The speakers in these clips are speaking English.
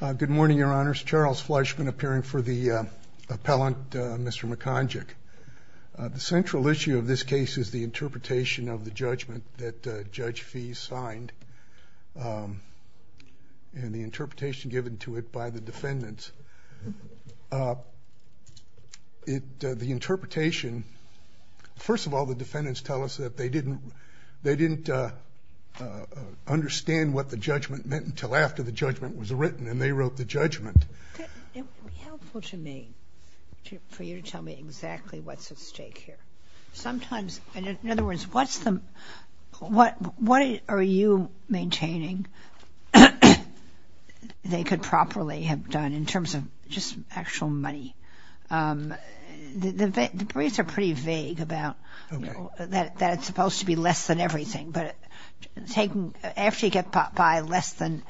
Good morning, Your Honors. Charles Fleischman appearing for the appellant, Mr. Mekonjic. The central issue of this case is the interpretation of the judgment that Judge Fee signed and the interpretation given to it by the defendants. The interpretation, first of all, the defendants tell us that they didn't understand what the judgment meant until after the judgment was written and they wrote the judgment. It would be helpful to me for you to tell me exactly what's at stake here. Sometimes, in other words, what are you maintaining they could properly have done in terms of just actual money? The briefs are pretty vague about that it's supposed to be less than everything, but after you get by less than,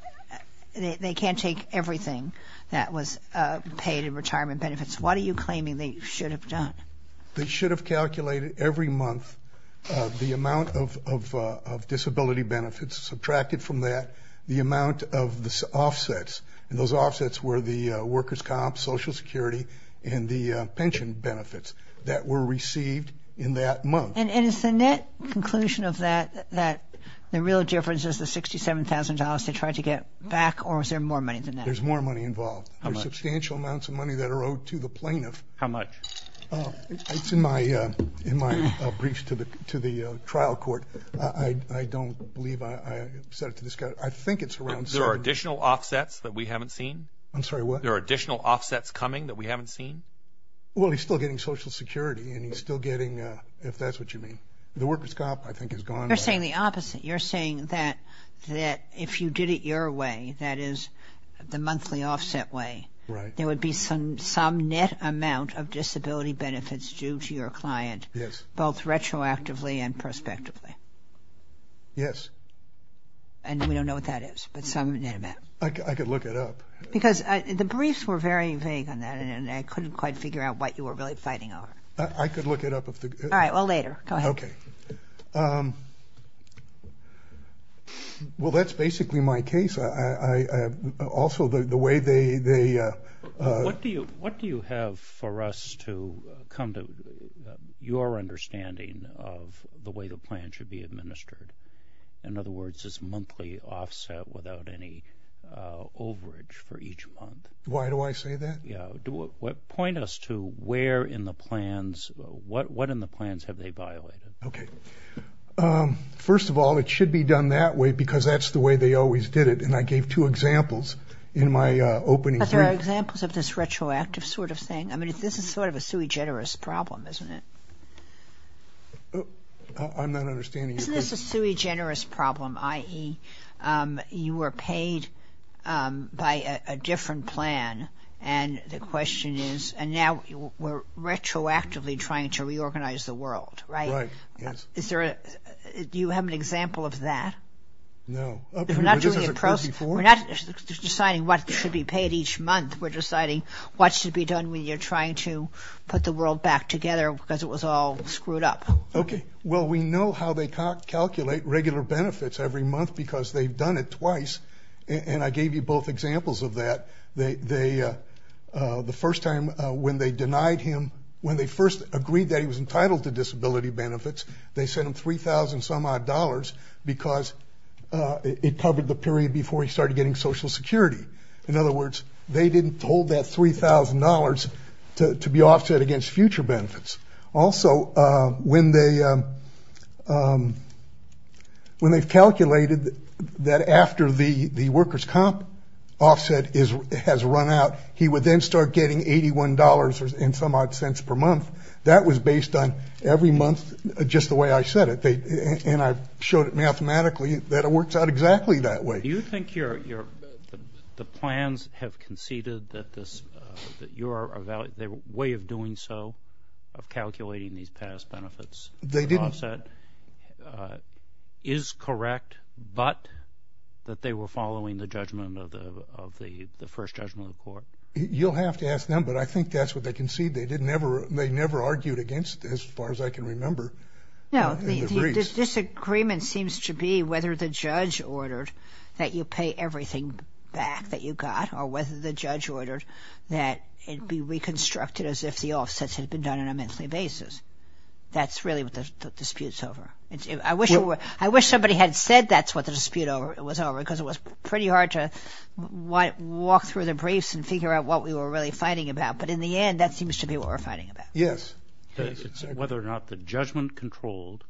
they can't take everything that was paid in retirement benefits. What are you claiming they should have done? They should have calculated every month the amount of disability benefits, subtracted from that the amount of the offsets. Those offsets were the workers' comps, Social Security, and the pension benefits that were received in that month. Is the net conclusion of that that the real difference is the $67,000 they tried to get back or is there more money than that? There's more money involved. There's substantial amounts of money that are owed to the plaintiff. How much? It's in my briefs to the trial court. I don't believe I said it to this guy. I think it's around $70,000. Are there additional offsets that we haven't seen? I'm sorry, what? Are there additional offsets coming that we haven't seen? Well, he's still getting Social Security and he's still getting, if that's what you mean. The workers' comp, I think, is gone. You're saying the opposite. You're saying that if you did it your way, that is the monthly offset way, there would be some net amount of disability benefits due to your client, both retroactively and prospectively. Yes. And we don't know what that is, but some net amount. I could look it up. Because the briefs were very vague on that and I couldn't quite figure out what you were really fighting over. I could look it up. All right, well, later. Go ahead. Okay. Well, that's basically my case. Also, the way they... What do you have for us to come to your understanding of the way the plan should be administered? In other words, this monthly offset without any overage for each month. Why do I say that? Yeah. Point us to where in the plans, what in the plans have they violated? Okay. First of all, it should be done that way because that's the way they always did it. And I gave two examples in my opening brief. Are there examples of this retroactive sort of thing? I mean, this is sort of a sui generis problem, isn't it? I'm not understanding your question. Isn't this a sui generis problem, i.e., you were paid by a different plan, and the question is, and now we're retroactively trying to reorganize the world, right? Right, yes. Do you have an example of that? No. We're not deciding what should be paid each month. We're deciding what should be done when you're trying to put the world back together because it was all screwed up. Okay. Well, we know how they calculate regular benefits every month because they've done it twice, and I gave you both examples of that. The first time when they denied him, when they first agreed that he was entitled to disability benefits, they sent him $3,000 some odd dollars because it covered the period before he started getting Social Security. In other words, they didn't hold that $3,000 to be offset against future benefits. Also, when they've calculated that after the workers' comp offset has run out, he would then start getting $81 and some odd cents per month. That was based on every month just the way I said it, and I've showed it mathematically that it works out exactly that way. Do you think the plans have conceded that your way of doing so, of calculating these past benefits offset, is correct, but that they were following the judgment of the first judgment of the court? You'll have to ask them, but I think that's what they conceded. They never argued against it as far as I can remember. No, the disagreement seems to be whether the judge ordered that you pay everything back that you got, or whether the judge ordered that it be reconstructed as if the offsets had been done on a monthly basis. That's really what the dispute's over. I wish somebody had said that's what the dispute was over because it was pretty hard to walk through the briefs and figure out what we were really fighting about, but in the end that seems to be what we're fighting about. Yes. It's whether or not the judgment controlled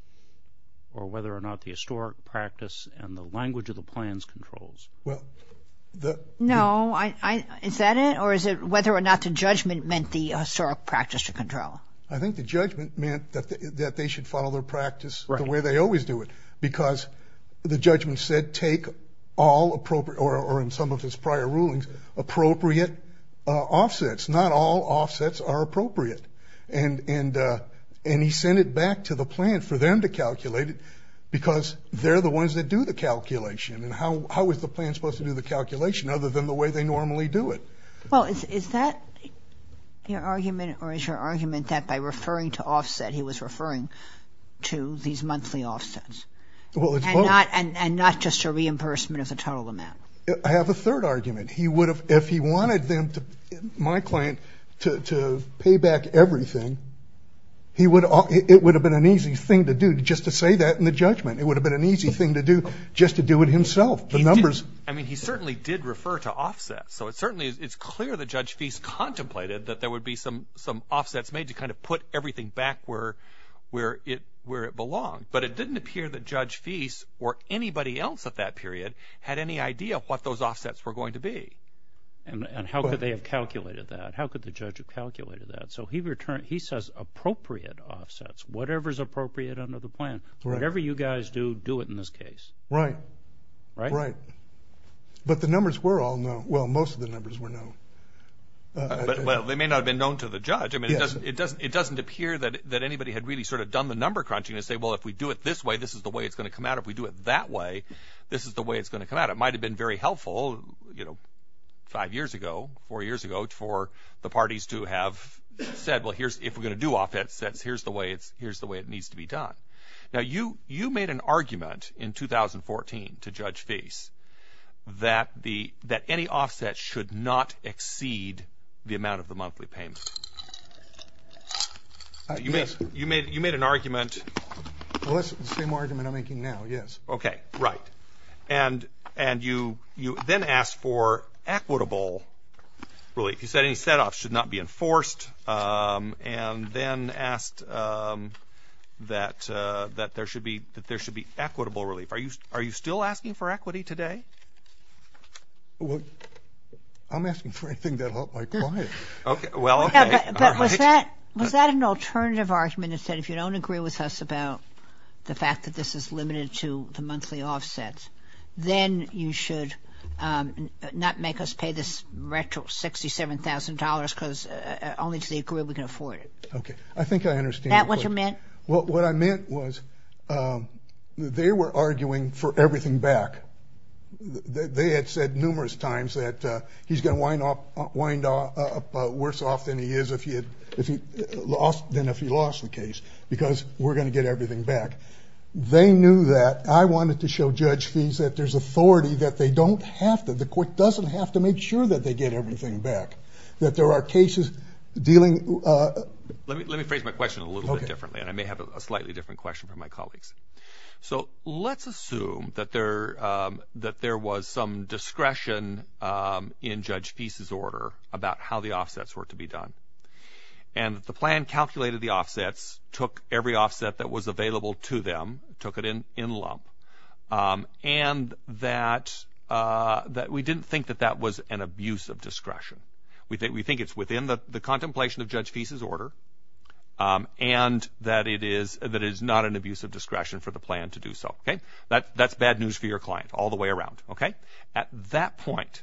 or whether or not the historic practice and the language of the plans controls. No, is that it, or is it whether or not the judgment meant the historic practice to control? I think the judgment meant that they should follow their practice the way they always do it because the judgment said take all appropriate, or in some of his prior rulings, appropriate offsets, not all offsets are appropriate, and he sent it back to the plan for them to calculate it because they're the ones that do the calculation, and how is the plan supposed to do the calculation other than the way they normally do it? Well, is that your argument or is your argument that by referring to offset, he was referring to these monthly offsets and not just a reimbursement of the total amount? I have a third argument. If he wanted my client to pay back everything, it would have been an easy thing to do just to say that in the judgment. It would have been an easy thing to do just to do it himself, the numbers. I mean, he certainly did refer to offset, so it certainly is clear that Judge Feist contemplated that there would be some offsets made to kind of put everything back where it belonged, but it didn't appear that Judge Feist or anybody else at that period had any idea what those offsets were going to be. And how could they have calculated that? How could the judge have calculated that? So he says appropriate offsets, whatever's appropriate under the plan. Whatever you guys do, do it in this case. Right. Right. But the numbers were all known. Well, most of the numbers were known. Well, they may not have been known to the judge. I mean, it doesn't appear that anybody had really sort of done the number crunching and say, well, if we do it this way, this is the way it's going to come out. If we do it that way, this is the way it's going to come out. It might have been very helpful, you know, five years ago, four years ago, for the parties to have said, well, if we're going to do offsets, here's the way it needs to be done. Now, you made an argument in 2014 to Judge Feist that any offset should not exceed the amount of the monthly payment. You made an argument. Well, that's the same argument I'm making now, yes. Okay. Right. And you then asked for equitable relief. You said any set-offs should not be enforced and then asked that there should be equitable relief. Are you still asking for equity today? Well, I'm asking for anything that'll help my client. Okay. Well, okay. All right. Was that an alternative argument that said if you don't agree with us about the fact that this is limited to the monthly offsets, then you should not make us pay this retro $67,000 because only if they agree we can afford it. Okay. I think I understand. Is that what you meant? Well, what I meant was they were arguing for everything back. They had said numerous times that he's going to wind up worse off than he is than if he lost the case because we're going to get everything back. They knew that. I wanted to show Judge Feese that there's authority that they don't have to. The court doesn't have to make sure that they get everything back, that there are cases dealing. Let me phrase my question a little bit differently, and I may have a slightly different question from my colleagues. So let's assume that there was some discretion in Judge Feese's order about how the offsets were to be done, and that the plan calculated the offsets, took every offset that was available to them, took it in lump, and that we didn't think that that was an abuse of discretion. We think it's within the contemplation of Judge Feese's order and that it is not an abuse of discretion for the plan to do so. That's bad news for your client all the way around. At that point,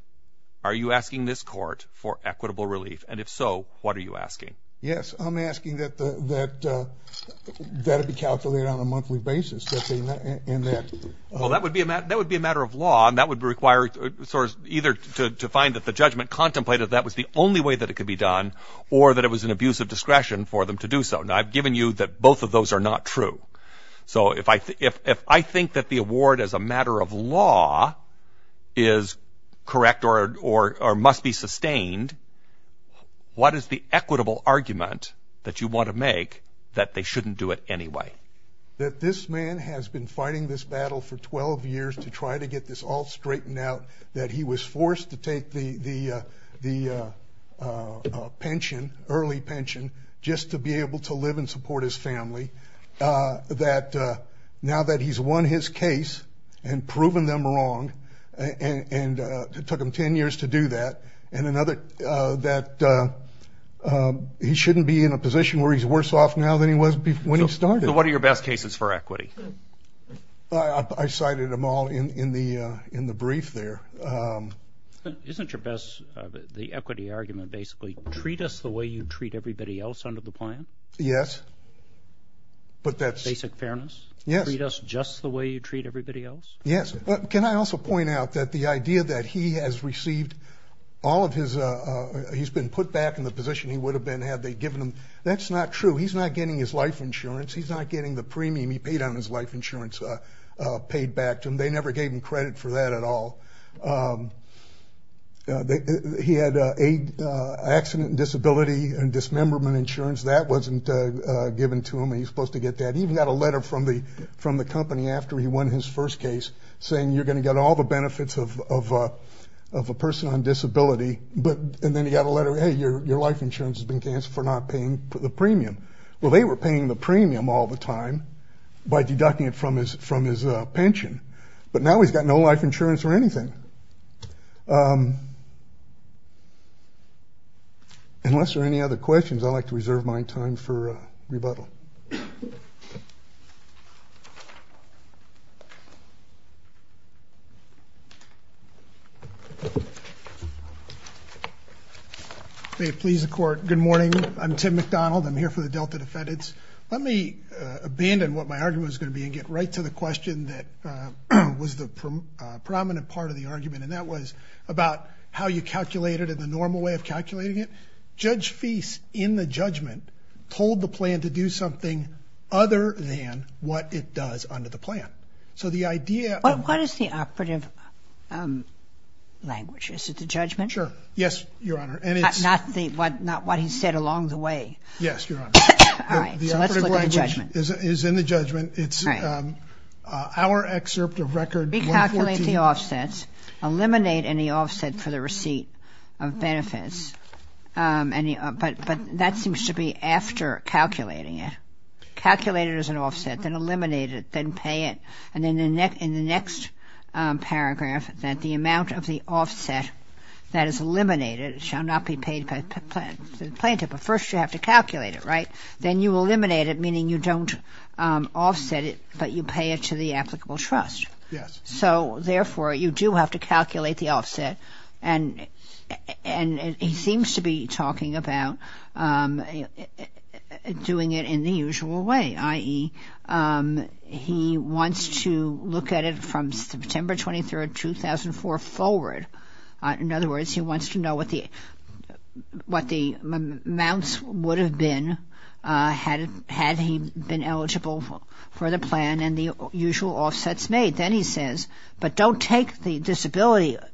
are you asking this court for equitable relief? And if so, what are you asking? Yes, I'm asking that that be calculated on a monthly basis. Well, that would be a matter of law, and that would require either to find that the judgment contemplated that was the only way that it could be done or that it was an abuse of discretion for them to do so. Now, I've given you that both of those are not true. So if I think that the award as a matter of law is correct or must be sustained, what is the equitable argument that you want to make that they shouldn't do it anyway? That this man has been fighting this battle for 12 years to try to get this all straightened out, that he was forced to take the pension, early pension, just to be able to live and support his family, that now that he's won his case and proven them wrong, and it took him 10 years to do that, and that he shouldn't be in a position where he's worse off now than he was when he started. So what are your best cases for equity? I cited them all in the brief there. Isn't your best, the equity argument basically, treat us the way you treat everybody else under the plan? Yes. Basic fairness? Yes. Treat us just the way you treat everybody else? Yes. Can I also point out that the idea that he has received all of his, he's been put back in the position he would have been had they given him, that's not true. He's not getting his life insurance. He's not getting the premium he paid on his life insurance paid back to him. They never gave him credit for that at all. He had accident and disability and dismemberment insurance. That wasn't given to him. He's supposed to get that. He even got a letter from the company after he won his first case saying, you're going to get all the benefits of a person on disability, and then he got a letter, hey, your life insurance has been canceled for not paying the premium. Well, they were paying the premium all the time by deducting it from his pension, but now he's got no life insurance or anything. Unless there are any other questions, I'd like to reserve my time for rebuttal. May it please the Court, good morning. I'm Tim McDonald. I'm here for the Delta defendants. Let me abandon what my argument was going to be and get right to the question that was the prominent part of the argument, and that was about how you calculate it and the normal way of calculating it. Judge Feist, in the judgment, told the plan to do something other than what it does under the plan. So the idea of – What is the operative language? Is it the judgment? Sure. Yes, Your Honor, and it's – Not what he said along the way. Yes, Your Honor. All right. So let's look at the judgment. The operative language is in the judgment. It's our excerpt of Record 114 – Eliminate any offset for the receipt of benefits. But that seems to be after calculating it. Calculate it as an offset, then eliminate it, then pay it. And in the next paragraph, that the amount of the offset that is eliminated shall not be paid by the plaintiff. But first you have to calculate it, right? Then you eliminate it, meaning you don't offset it, but you pay it to the applicable trust. Yes. So, therefore, you do have to calculate the offset. And he seems to be talking about doing it in the usual way, i.e. he wants to look at it from September 23, 2004 forward. In other words, he wants to know what the amounts would have been had he been eligible for the plan and the usual offsets made. Then he says, but don't take the disability –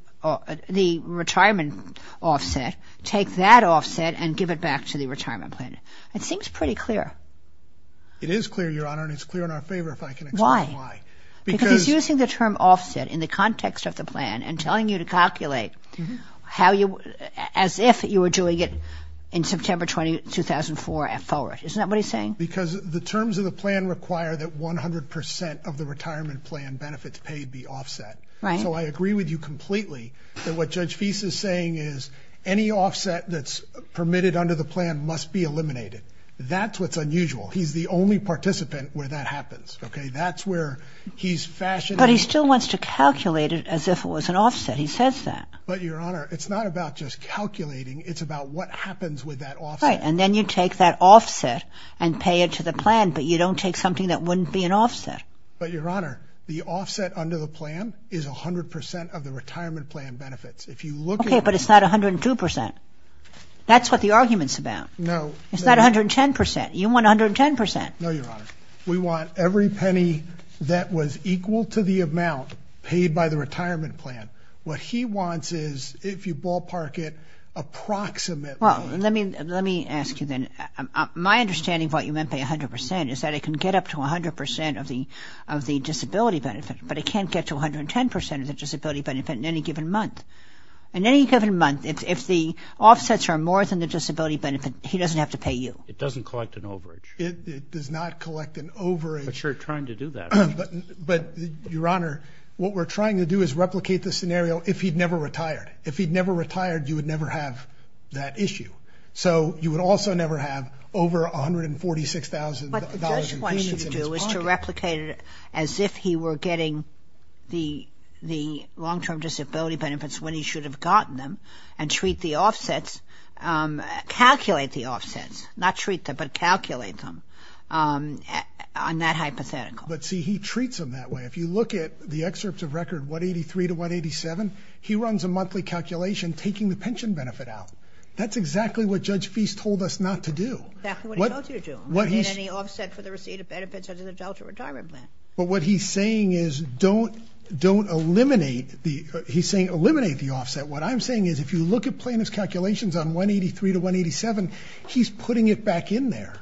the retirement offset. Take that offset and give it back to the retirement plan. It seems pretty clear. It is clear, Your Honor, and it's clear in our favor, if I can explain why. Why? Because he's using the term offset in the context of the plan and telling you to calculate how you – as if you were doing it in September 20, 2004 forward. Isn't that what he's saying? Because the terms of the plan require that 100 percent of the retirement plan benefits paid be offset. Right. So I agree with you completely that what Judge Feist is saying is any offset that's permitted under the plan must be eliminated. That's what's unusual. He's the only participant where that happens, okay? That's where he's fashioning – But he still wants to calculate it as if it was an offset. He says that. But, Your Honor, it's not about just calculating. It's about what happens with that offset. Right, and then you take that offset and pay it to the plan, but you don't take something that wouldn't be an offset. But, Your Honor, the offset under the plan is 100 percent of the retirement plan benefits. If you look at – Okay, but it's not 102 percent. That's what the argument's about. No. It's not 110 percent. You want 110 percent. No, Your Honor. We want every penny that was equal to the amount paid by the retirement plan. What he wants is, if you ballpark it, approximately – Well, let me ask you then. My understanding of what you meant by 100 percent is that it can get up to 100 percent of the disability benefit, but it can't get to 110 percent of the disability benefit in any given month. In any given month, if the offsets are more than the disability benefit, he doesn't have to pay you. It doesn't collect an overage. It does not collect an overage. But you're trying to do that. But, Your Honor, what we're trying to do is replicate the scenario if he'd never retired. If he'd never retired, you would never have that issue. So you would also never have over $146,000 in fees in his pocket. What the judge wants you to do is to replicate it as if he were getting the long-term disability benefits when he should have gotten them and treat the offsets – calculate the offsets, not treat them, but calculate them on that hypothetical. But, see, he treats them that way. If you look at the excerpts of record 183 to 187, he runs a monthly calculation taking the pension benefit out. That's exactly what Judge Feist told us not to do. Exactly what he told you to do. He didn't get any offset for the receipt of benefits under the Delta retirement plan. But what he's saying is don't eliminate the – he's saying eliminate the offset. What I'm saying is if you look at plaintiff's calculations on 183 to 187, he's putting it back in there.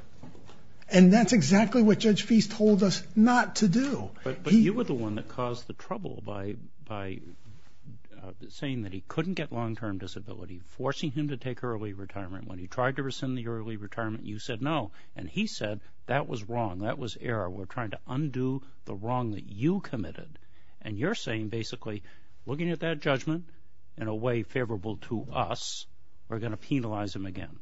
And that's exactly what Judge Feist told us not to do. But you were the one that caused the trouble by saying that he couldn't get long-term disability, forcing him to take early retirement. When he tried to rescind the early retirement, you said no. And he said that was wrong, that was error. We're trying to undo the wrong that you committed. And you're saying basically looking at that judgment in a way favorable to us, we're going to penalize him again.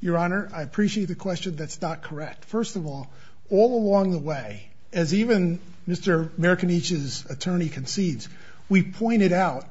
Your Honor, I appreciate the question that's not correct. First of all, all along the way, as even Mr. Marconich's attorney concedes, we pointed out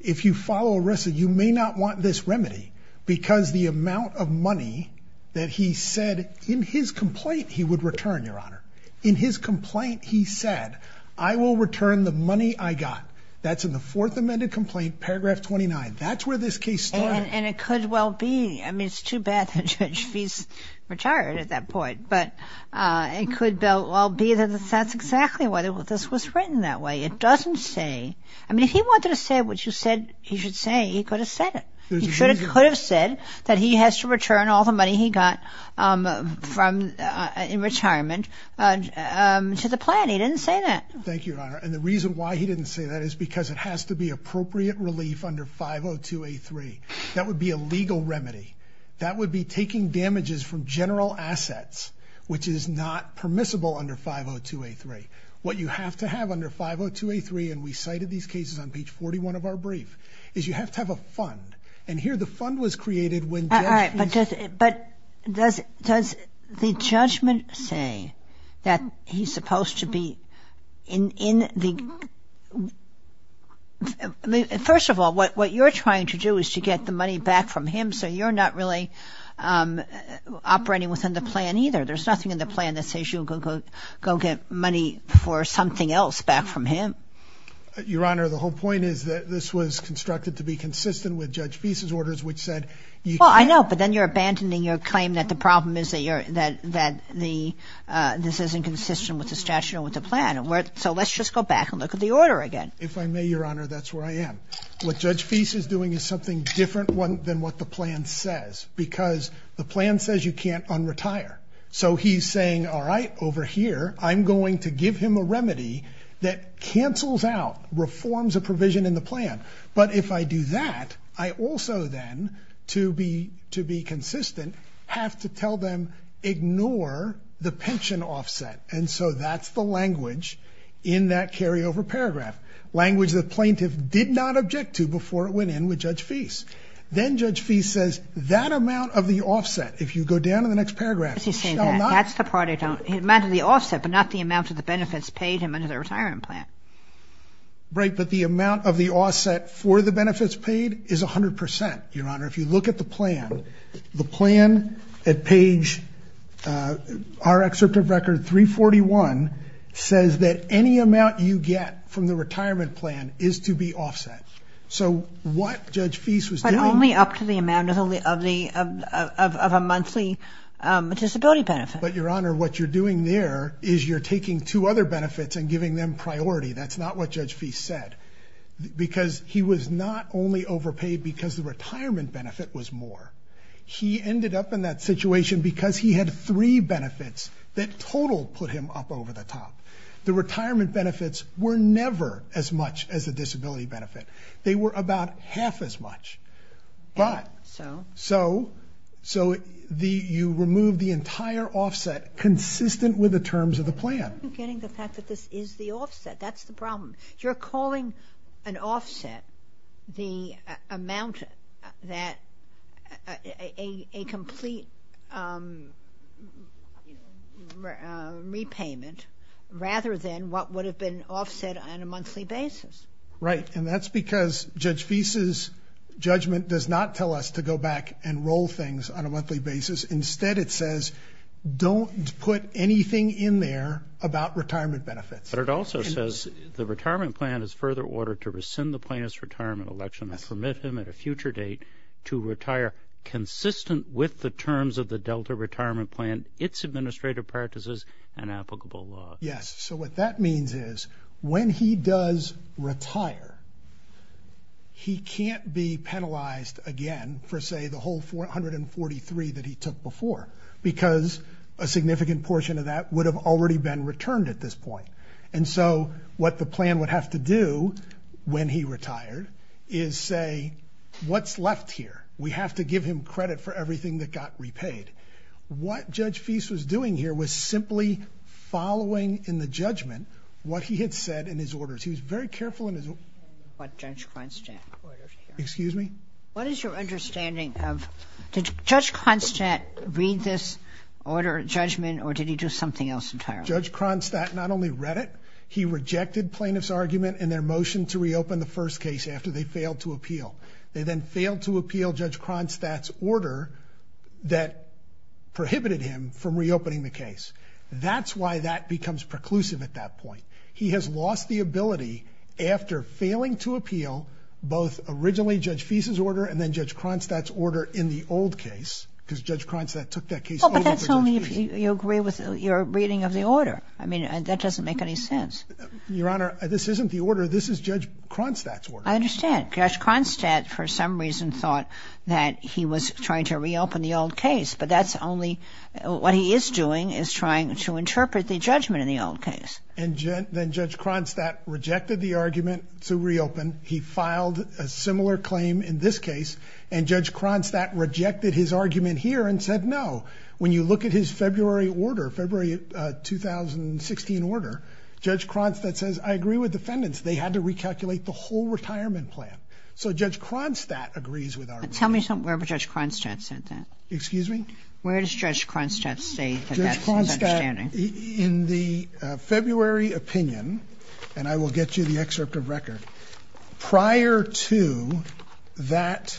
if you follow a receipt, you may not want this remedy because the amount of money that he said in his complaint he would return, Your Honor. In his complaint he said, I will return the money I got. That's in the Fourth Amendment complaint, paragraph 29. That's where this case started. And it could well be. I mean, it's too bad that Judge Fee is retired at that point. But it could well be that that's exactly why this was written that way. It doesn't say. I mean, if he wanted to say what you said he should say, he could have said it. He could have said that he has to return all the money he got in retirement to the plan. He didn't say that. Thank you, Your Honor. And the reason why he didn't say that is because it has to be appropriate relief under 502A3. That would be a legal remedy. That would be taking damages from general assets, which is not permissible under 502A3. What you have to have under 502A3, and we cited these cases on page 41 of our brief, is you have to have a fund. And here the fund was created when Judge Fee – All right, but does the judgment say that he's supposed to be in the – First of all, what you're trying to do is to get the money back from him, so you're not really operating within the plan either. There's nothing in the plan that says you'll go get money for something else back from him. Your Honor, the whole point is that this was constructed to be consistent with Judge Fee's orders, which said you can't – Well, I know, but then you're abandoning your claim that the problem is that this isn't consistent with the statute or with the plan. So let's just go back and look at the order again. If I may, Your Honor, that's where I am. What Judge Fee is doing is something different than what the plan says, because the plan says you can't un-retire. So he's saying, all right, over here I'm going to give him a remedy that cancels out, reforms a provision in the plan. But if I do that, I also then, to be consistent, have to tell them ignore the pension offset. And so that's the language in that carryover paragraph, language the plaintiff did not object to before it went in with Judge Fee. Then Judge Fee says that amount of the offset, if you go down to the next paragraph, shall not – That's the part I don't – the amount of the offset, but not the amount of the benefits paid him under the retirement plan. Right, but the amount of the offset for the benefits paid is 100 percent, Your Honor. If you look at the plan, the plan at page, our excerpt of record 341, says that any amount you get from the retirement plan is to be offset. So what Judge Fee was doing – But only up to the amount of a monthly disability benefit. But, Your Honor, what you're doing there is you're taking two other benefits and giving them priority. That's not what Judge Fee said, because he was not only overpaid because the retirement benefit was more. He ended up in that situation because he had three benefits that total put him up over the top. The retirement benefits were never as much as the disability benefit. They were about half as much. But – So? So you remove the entire offset consistent with the terms of the plan. I'm not getting the fact that this is the offset. That's the problem. You're calling an offset the amount that a complete repayment rather than what would have been offset on a monthly basis. Right, and that's because Judge Fee's judgment does not tell us to go back and roll things on a monthly basis. Instead, it says don't put anything in there about retirement benefits. But it also says the retirement plan is further ordered to rescind the plaintiff's retirement election and permit him at a future date to retire consistent with the terms of the Delta Retirement Plan, its administrative practices, and applicable law. Yes, so what that means is when he does retire, he can't be penalized again for, say, the whole 443 that he took before because a significant portion of that would have already been returned at this point. And so what the plan would have to do when he retired is say, what's left here? We have to give him credit for everything that got repaid. What Judge Fee's was doing here was simply following in the judgment what he had said in his orders. He was very careful in his orders. What Judge Konstant ordered here. Excuse me? What is your understanding of did Judge Konstant read this order, judgment, or did he do something else entirely? Judge Konstant not only read it, he rejected plaintiff's argument and their motion to reopen the first case after they failed to appeal. They then failed to appeal Judge Konstant's order that prohibited him from reopening the case. That's why that becomes preclusive at that point. He has lost the ability after failing to appeal both originally Judge Fee's order and then Judge Konstant's order in the old case because Judge Konstant took that case over. But that's only if you agree with your reading of the order. I mean, that doesn't make any sense. Your Honor, this isn't the order. This is Judge Konstant's order. I understand. Judge Konstant for some reason thought that he was trying to reopen the old case, but that's only what he is doing is trying to interpret the judgment in the old case. And then Judge Konstant rejected the argument to reopen. He filed a similar claim in this case, and Judge Konstant rejected his argument here and said no. When you look at his February order, February 2016 order, Judge Konstant says, I agree with defendants. They had to recalculate the whole retirement plan. So Judge Konstant agrees with our reading. Tell me wherever Judge Konstant said that. Excuse me? Where does Judge Konstant say that that's his understanding? In the February opinion, and I will get you the excerpt of record, prior to that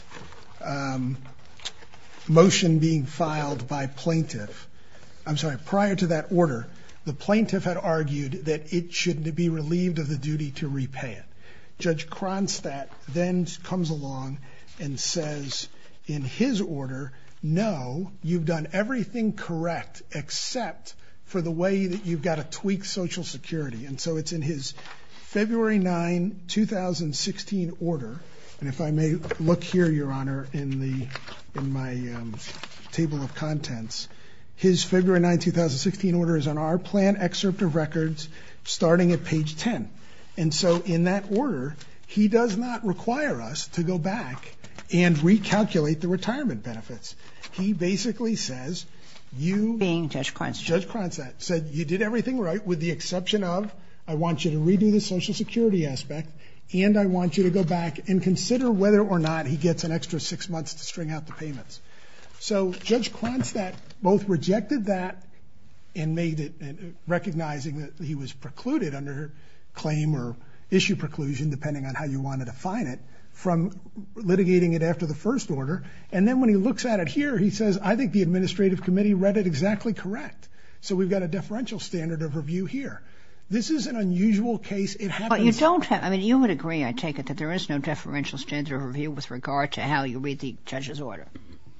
motion being filed by plaintiff, I'm sorry, prior to that order, the plaintiff had argued that it should be relieved of the duty to repay it. Judge Konstant then comes along and says in his order, no, you've done everything correct except for the way that you've got to tweak Social Security. And so it's in his February 9, 2016 order. And if I may look here, Your Honor, in my table of contents, his February 9, 2016 order is on our plan excerpt of records starting at page 10. And so in that order, he does not require us to go back and recalculate the retirement benefits. He basically says you, being Judge Konstant, said you did everything right with the exception of, I want you to redo the Social Security aspect, and I want you to go back and consider whether or not he gets an extra six months to string out the payments. So Judge Konstant both rejected that and made it, recognizing that he was precluded under claim or issue preclusion, depending on how you want to define it, from litigating it after the first order. And then when he looks at it here, he says, I think the administrative committee read it exactly correct. So we've got a deferential standard of review here. This is an unusual case. But you don't have, I mean, you would agree, I take it, that there is no deferential standard of review with regard to how you read the judge's order.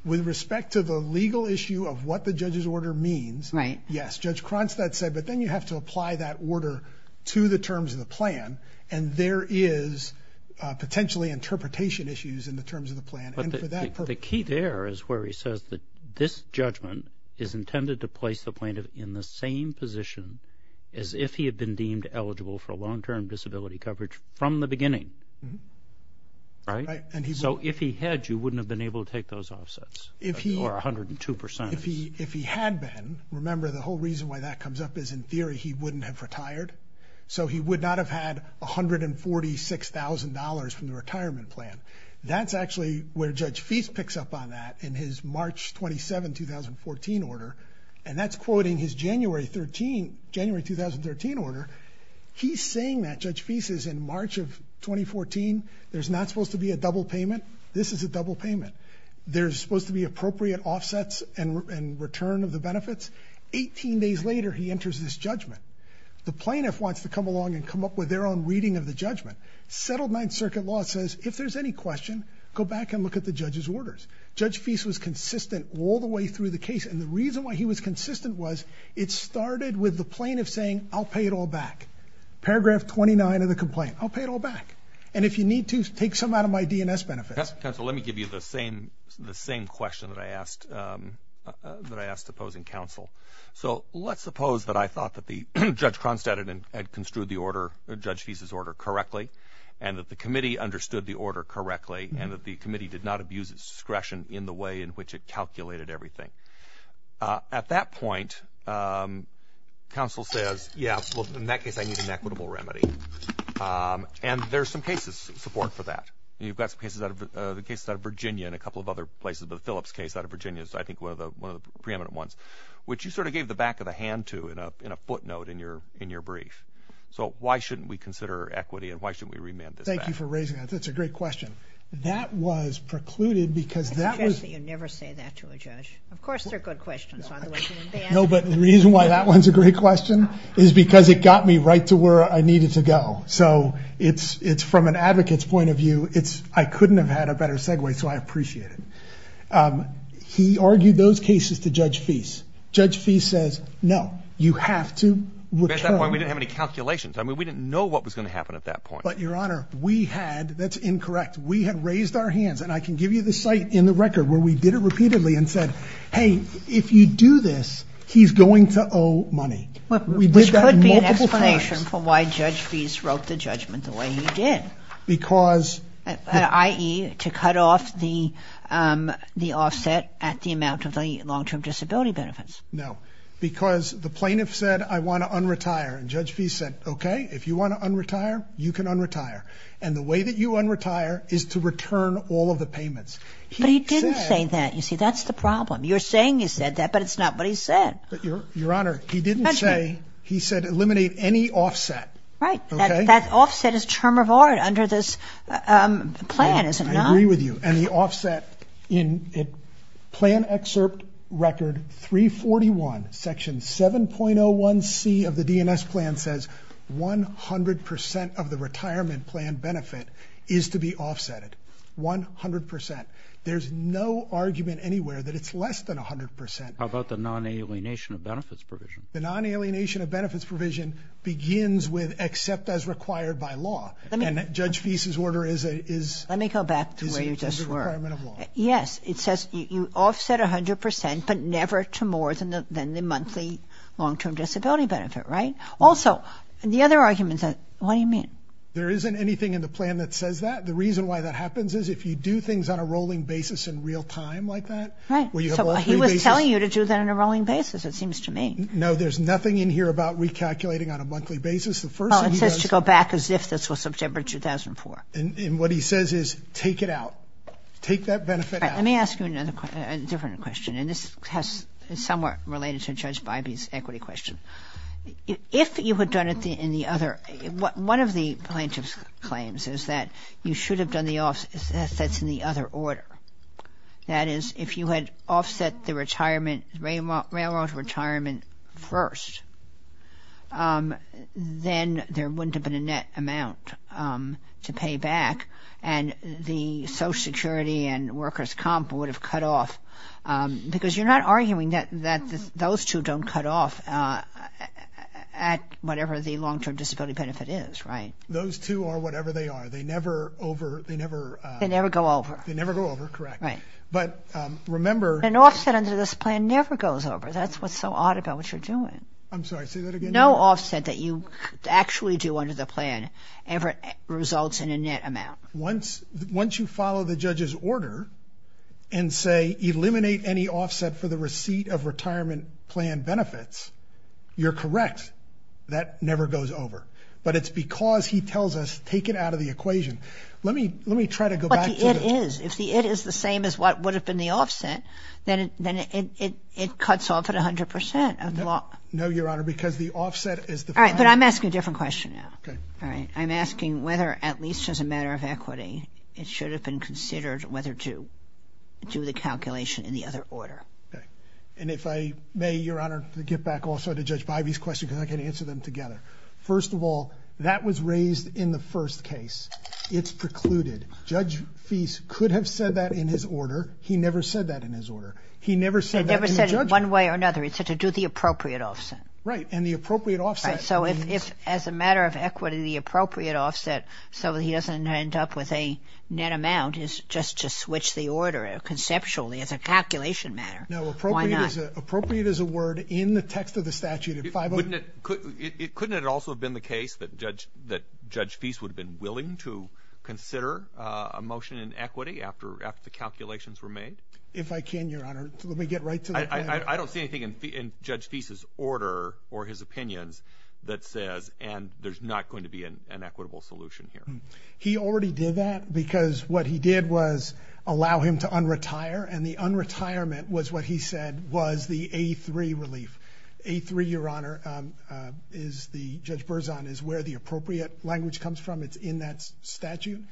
With respect to the legal issue of what the judge's order means, yes, Judge Konstant said, but then you have to apply that order to the terms of the plan, and there is potentially interpretation issues in the terms of the plan. The key there is where he says that this judgment is intended to place the plaintiff in the same position as if he had been deemed eligible for long-term disability coverage from the beginning, right? So if he had, you wouldn't have been able to take those offsets, or 102%. If he had been, remember the whole reason why that comes up is in theory he wouldn't have retired. So he would not have had $146,000 from the retirement plan. That's actually where Judge Feist picks up on that in his March 27, 2014 order, and that's quoting his January 2013 order. He's saying that, Judge Feist, in March of 2014, there's not supposed to be a double payment. This is a double payment. There's supposed to be appropriate offsets and return of the benefits. Eighteen days later, he enters this judgment. The plaintiff wants to come along and come up with their own reading of the judgment. Settled Ninth Circuit law says if there's any question, go back and look at the judge's orders. Judge Feist was consistent all the way through the case, and the reason why he was consistent was it started with the plaintiff saying, I'll pay it all back. Paragraph 29 of the complaint, I'll pay it all back. And if you need to, take some out of my DNS benefits. Counsel, let me give you the same question that I asked opposing counsel. So let's suppose that I thought that Judge Cronstadt had construed the order, Judge Feist's order, correctly, and that the committee understood the order correctly, and that the committee did not abuse its discretion in the way in which it calculated everything. At that point, counsel says, yeah, well, in that case, I need an equitable remedy. And there's some cases in support for that. You've got some cases out of Virginia and a couple of other places, but the Phillips case out of Virginia is, I think, one of the preeminent ones, which you sort of gave the back of the hand to in a footnote in your brief. So why shouldn't we consider equity and why shouldn't we remand this back? Thank you for raising that. That's a great question. That was precluded because that was... It's interesting you never say that to a judge. Of course, they're good questions. No, but the reason why that one's a great question is because it got me right to where I needed to go. So it's from an advocate's point of view, I couldn't have had a better segue, so I appreciate it. He argued those cases to Judge Feist. Judge Feist says, no, you have to... At that point, we didn't have any calculations. I mean, we didn't know what was going to happen at that point. But, Your Honor, we had... that's incorrect. We had raised our hands, and I can give you the site in the record where we did it repeatedly and said, hey, if you do this, he's going to owe money. This could be an explanation for why Judge Feist wrote the judgment the way he did. Because... i.e. to cut off the offset at the amount of the long-term disability benefits. No, because the plaintiff said, I want to un-retire. And Judge Feist said, okay, if you want to un-retire, you can un-retire. And the way that you un-retire is to return all of the payments. But he didn't say that. You see, that's the problem. You're saying he said that, but it's not what he said. But, Your Honor, he didn't say... He said eliminate any offset. Right. That offset is term of order under this plan, isn't it? I agree with you. And the offset in plan excerpt record 341, section 7.01c of the DNS plan says 100% of the retirement plan benefit is to be offset. 100%. There's no argument anywhere that it's less than 100%. How about the non-alienation of benefits provision? The non-alienation of benefits provision begins with except as required by law. And Judge Feist's order is... Go back to where you just were. Yes, it says you offset 100%, but never to more than the monthly long-term disability benefit, right? Also, the other argument is... What do you mean? There isn't anything in the plan that says that. The reason why that happens is if you do things on a rolling basis in real time like that... Right. He was telling you to do that on a rolling basis, it seems to me. No, there's nothing in here about recalculating on a monthly basis. The first thing he does... Well, it says to go back as if this was September 2004. And what he says is take it out. Take that benefit out. Let me ask you a different question. And this is somewhat related to Judge Bybee's equity question. If you had done it in the other... One of the plaintiff's claims is that you should have done the offsets in the other order. That is, if you had offset the railroad retirement first... Then there wouldn't have been a net amount to pay back. And the Social Security and workers' comp would have cut off... Because you're not arguing that those two don't cut off at whatever the long-term disability benefit is, right? Those two are whatever they are. They never over... They never go over. They never go over, correct. Right. But remember... An offset under this plan never goes over. That's what's so odd about what you're doing. I'm sorry, say that again. No offset that you actually do under the plan ever results in a net amount. Once you follow the judge's order and say, eliminate any offset for the receipt of retirement plan benefits, you're correct. That never goes over. But it's because he tells us, take it out of the equation. Let me try to go back to the... But the it is. If the it is the same as what would have been the offset, then it cuts off at 100%. No, Your Honor, because the offset is the... All right, but I'm asking a different question now. Okay. All right, I'm asking whether at least as a matter of equity, it should have been considered whether to do the calculation in the other order. Okay. And if I may, Your Honor, to get back also to Judge Bivey's question because I can answer them together. First of all, that was raised in the first case. It's precluded. Judge Feist could have said that in his order. He never said that in his order. He never said that in the... Right, and the appropriate offset. So if as a matter of equity, the appropriate offset so he doesn't end up with a net amount is just to switch the order conceptually as a calculation matter. Why not? No, appropriate is a word in the text of the statute. Couldn't it also have been the case that Judge Feist would have been willing to consider a motion in equity after the calculations were made? If I can, Your Honor. Let me get right to the point. I don't see anything in Judge Feist's order or his opinions that says, and there's not going to be an equitable solution here. He already did that because what he did was allow him to un-retire, and the un-retirement was what he said was the A3 relief. A3, Your Honor, is the, Judge Berzon, is where the appropriate language comes from. It's in that statute.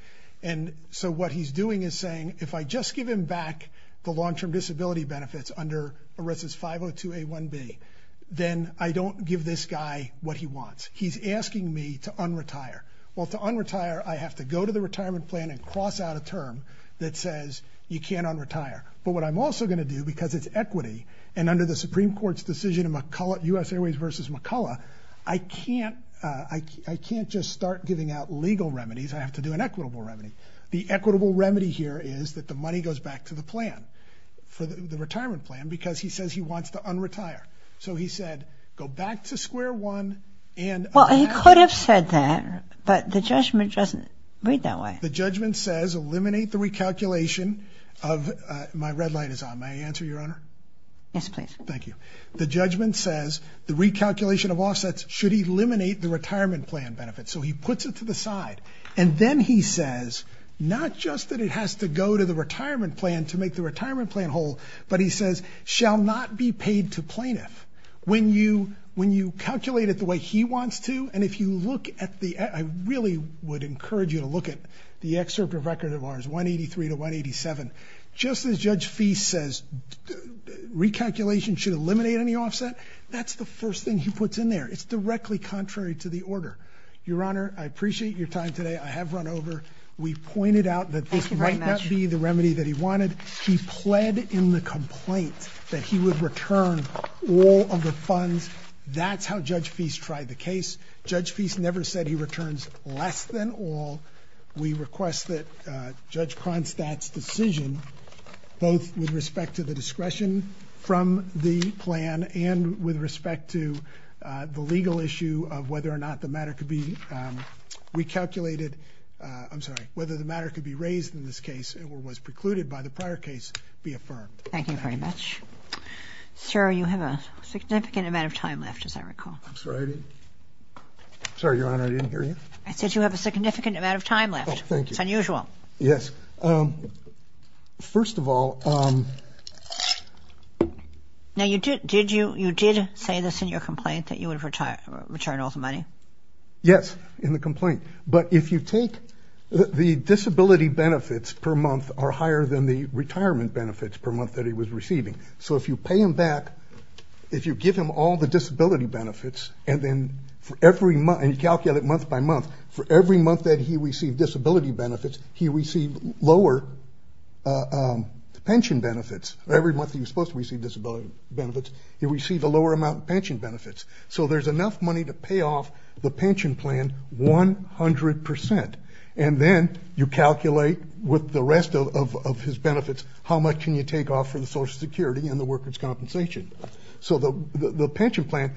And so what he's doing is saying, if I just give him back the long-term disability benefits under ERISA's 502A1B, then I don't give this guy what he wants. He's asking me to un-retire. Well, to un-retire, I have to go to the retirement plan and cross out a term that says you can't un-retire. But what I'm also going to do, because it's equity, and under the Supreme Court's decision in U.S. Airways v. McCullough, I can't just start giving out legal remedies. I have to do an equitable remedy. The equitable remedy here is that the money goes back to the plan, the retirement plan, because he says he wants to un-retire. So he said, go back to square one and un-retire. Well, he could have said that, but the judgment doesn't read that way. The judgment says eliminate the recalculation of – my red light is on. May I answer, Your Honor? Yes, please. Thank you. The judgment says the recalculation of offsets should eliminate the retirement plan benefits. So he puts it to the side. And then he says, not just that it has to go to the retirement plan to make the retirement plan whole, but he says, shall not be paid to plaintiff. When you calculate it the way he wants to, and if you look at the – I really would encourage you to look at the excerpt of record of ours, 183 to 187. Just as Judge Feist says recalculation should eliminate any offset, that's the first thing he puts in there. It's directly contrary to the order. Your Honor, I appreciate your time today. I have run over. We pointed out that this might not be the remedy that he wanted. He pled in the complaint that he would return all of the funds. That's how Judge Feist tried the case. Judge Feist never said he returns less than all. We request that Judge Kronstadt's decision, both with respect to the discretion from the plan and with respect to the legal issue of whether or not the matter could be recalculated – I'm sorry, whether the matter could be raised in this case or was precluded by the prior case be affirmed. Thank you very much. Sir, you have a significant amount of time left, as I recall. I'm sorry? Sir, Your Honor, I didn't hear you. I said you have a significant amount of time left. It's unusual. Yes. First of all – Now, you did say this in your complaint that you would return all the money. Yes, in the complaint. But if you take – the disability benefits per month are higher than the retirement benefits per month that he was receiving. So if you pay him back, if you give him all the disability benefits, and then for every month – and you calculate month by month – for every month that he received disability benefits, he received lower pension benefits. Every month that he was supposed to receive disability benefits, he received a lower amount of pension benefits. So there's enough money to pay off the pension plan 100%. And then you calculate with the rest of his benefits how much can you take off for the Social Security and the workers' compensation. So the pension plan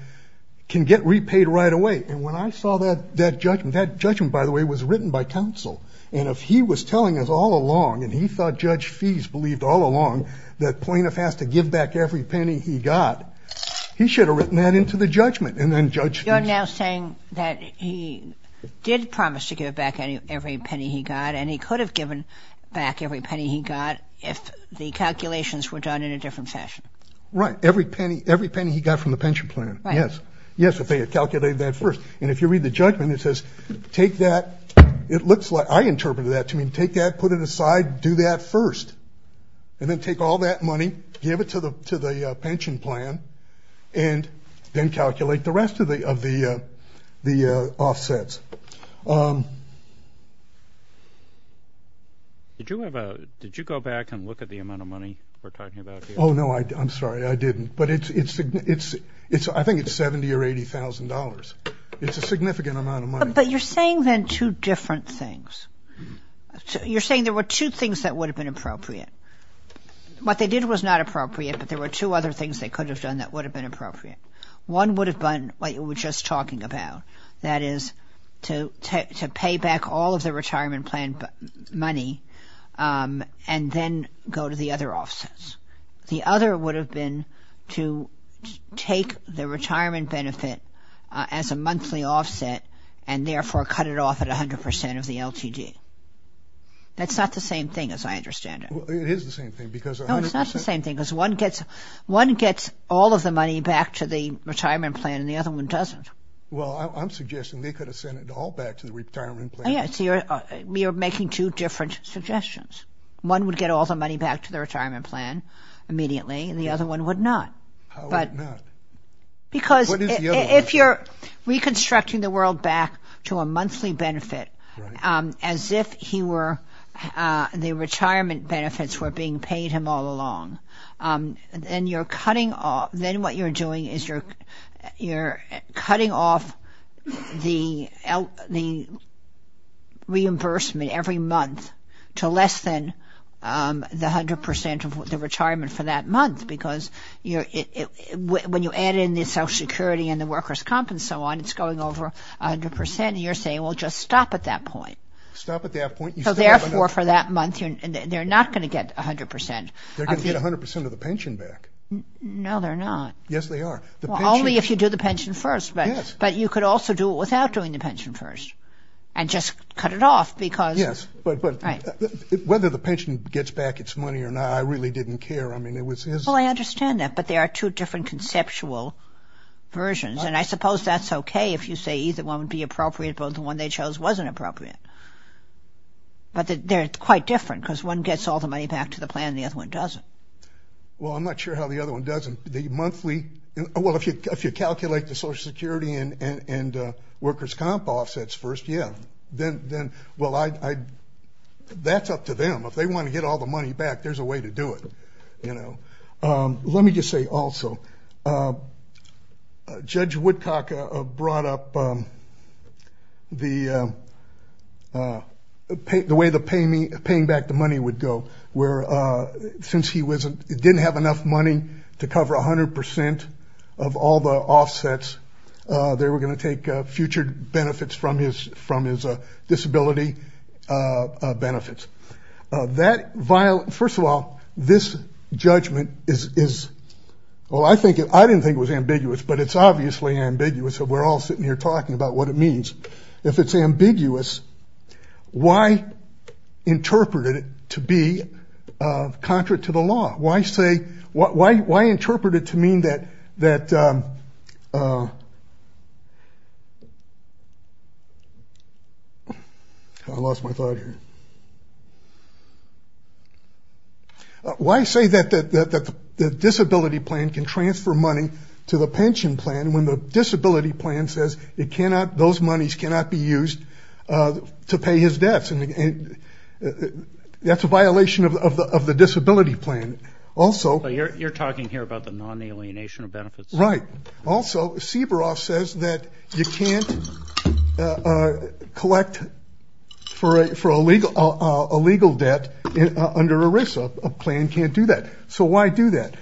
can get repaid right away. And when I saw that judgment – that judgment, by the way, was written by counsel. And if he was telling us all along, and he thought Judge Fies believed all along that Plaintiff has to give back every penny he got, he should have written that into the judgment. And then Judge Fies – And he could have given back every penny he got if the calculations were done in a different fashion. Right. Every penny he got from the pension plan. Right. Yes. Yes, if they had calculated that first. And if you read the judgment, it says take that – it looks like – I interpreted that to mean take that, put it aside, do that first. And then take all that money, give it to the pension plan, and then calculate the rest of the offsets. Did you have a – did you go back and look at the amount of money we're talking about here? Oh, no. I'm sorry. I didn't. But it's – I think it's $70,000 or $80,000. It's a significant amount of money. But you're saying then two different things. You're saying there were two things that would have been appropriate. What they did was not appropriate, but there were two other things they could have done that would have been appropriate. One would have been what you were just talking about, that is, to pay back all of the retirement plan money and then go to the other offsets. The other would have been to take the retirement benefit as a monthly offset and therefore cut it off at 100% of the LTD. That's not the same thing as I understand it. It is the same thing because – and the other one doesn't. Well, I'm suggesting they could have sent it all back to the retirement plan. Yes. You're making two different suggestions. One would get all the money back to the retirement plan immediately, and the other one would not. How would it not? Because if you're reconstructing the world back to a monthly benefit as if he were – the retirement benefits were being paid him all along, then what you're doing is you're cutting off the reimbursement every month to less than the 100% of the retirement for that month because when you add in the Social Security and the workers' comp and so on, it's going over 100%, and you're saying, well, just stop at that point. Stop at that point. So therefore, for that month, they're not going to get 100%. They're going to get 100% of the pension back. No, they're not. Yes, they are. Only if you do the pension first, but you could also do it without doing the pension first and just cut it off because – Yes, but whether the pension gets back its money or not, I really didn't care. I mean, it was – Well, I understand that, but there are two different conceptual versions, and I suppose that's okay if you say either one would be appropriate, but the one they chose wasn't appropriate. But they're quite different because one gets all the money back to the plan and the other one doesn't. Well, I'm not sure how the other one doesn't. The monthly – well, if you calculate the Social Security and workers' comp offsets first, yeah. Then, well, that's up to them. If they want to get all the money back, there's a way to do it, you know. Let me just say also, Judge Woodcock brought up the way the paying back the money would go, where since he didn't have enough money to cover 100% of all the offsets, they were going to take future benefits from his disability benefits. First of all, this judgment is – well, I didn't think it was ambiguous, but it's obviously ambiguous. We're all sitting here talking about what it means. If it's ambiguous, why interpret it to be contrary to the law? Why interpret it to mean that – I lost my thought here. Why say that the disability plan can transfer money to the pension plan when the disability plan says it cannot – those monies cannot be used to pay his debts? That's a violation of the disability plan. Also – You're talking here about the non-alienation of benefits? Right. Also, Siboroff says that you can't collect for a legal debt under ERISA. A plan can't do that. So why do that?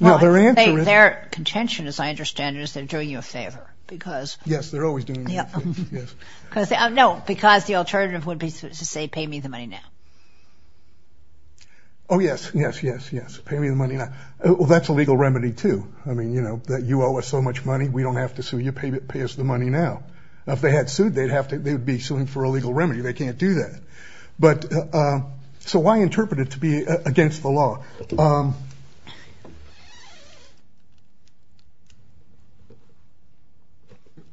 Their contention, as I understand it, is they're doing you a favor because – Yes, they're always doing you a favor, yes. No, because the alternative would be to say, pay me the money now. Oh, yes, yes, yes, yes. Pay me the money now. Well, that's a legal remedy, too. I mean, you know, that you owe us so much money, we don't have to sue you. Pay us the money now. If they had sued, they'd have to – they would be suing for a legal remedy. They can't do that. But – so why interpret it to be against the law? Thank you.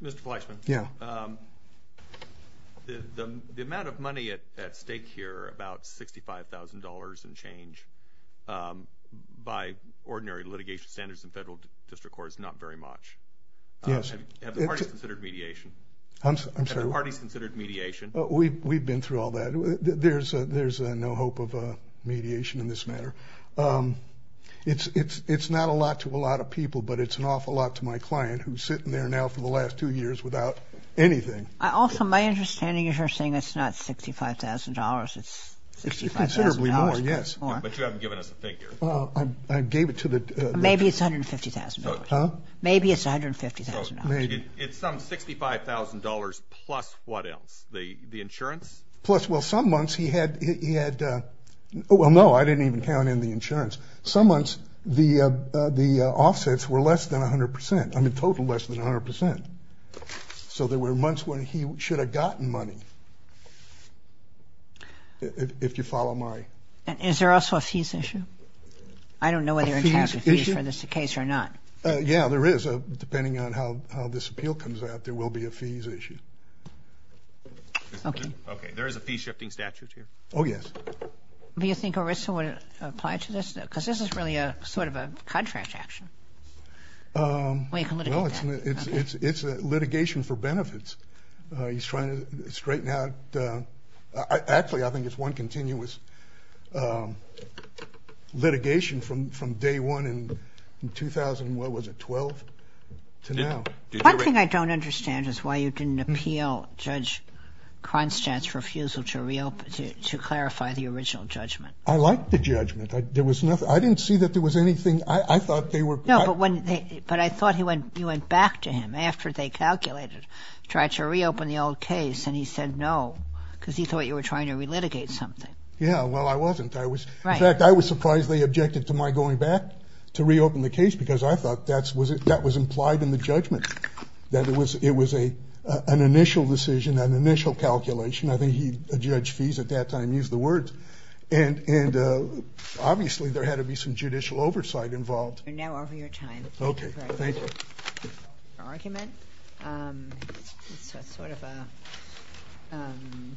Mr. Fleischman? Yeah. The amount of money at stake here, about $65,000 and change, by ordinary litigation standards in federal district courts, not very much. Yes. Have the parties considered mediation? I'm sorry? Have the parties considered mediation? We've been through all that. There's no hope of mediation in this matter. It's not a lot to a lot of people, but it's an awful lot to my client, who's sitting there now for the last two years without anything. Also, my understanding is you're saying it's not $65,000, it's $65,000 plus more. It's considerably more, yes. But you haven't given us a figure. I gave it to the – Maybe it's $150,000. Huh? Maybe it's $150,000. Maybe. It's some $65,000 plus what else? The insurance? Plus, well, some months he had – well, no, I didn't even count in the insurance. Some months the offsets were less than 100 percent. I mean, total less than 100 percent. So there were months when he should have gotten money, if you follow my – Is there also a fees issue? I don't know whether you're in charge of fees for this case or not. Yeah, there is. Depending on how this appeal comes out, there will be a fees issue. Okay. There is a fees-shifting statute here. Oh, yes. Do you think ERISA would apply to this? Because this is really sort of a contract action. Well, you can litigate that. Well, it's litigation for benefits. He's trying to straighten out – actually, I think it's one continuous litigation from day one in 2000 – what was it, 12? To now. One thing I don't understand is why you didn't appeal Judge Konstant's refusal to clarify the original judgment. I liked the judgment. There was nothing – I didn't see that there was anything – I thought they were – No, but I thought you went back to him after they calculated, tried to reopen the old case, and he said no because he thought you were trying to relitigate something. Yeah, well, I wasn't. In fact, I was surprised they objected to my going back to reopen the case because I thought that was implied in the judgment, that it was an initial decision, an initial calculation. I think Judge Fees at that time used the words. And obviously there had to be some judicial oversight involved. We're now over your time. Okay, thank you. Your argument is sort of a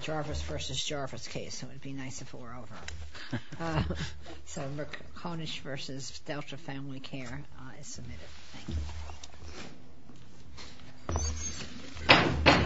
Jarvis versus Jarvis case, so it would be nice if it were over. So McConish versus Delta Family Care is submitted. Thank you.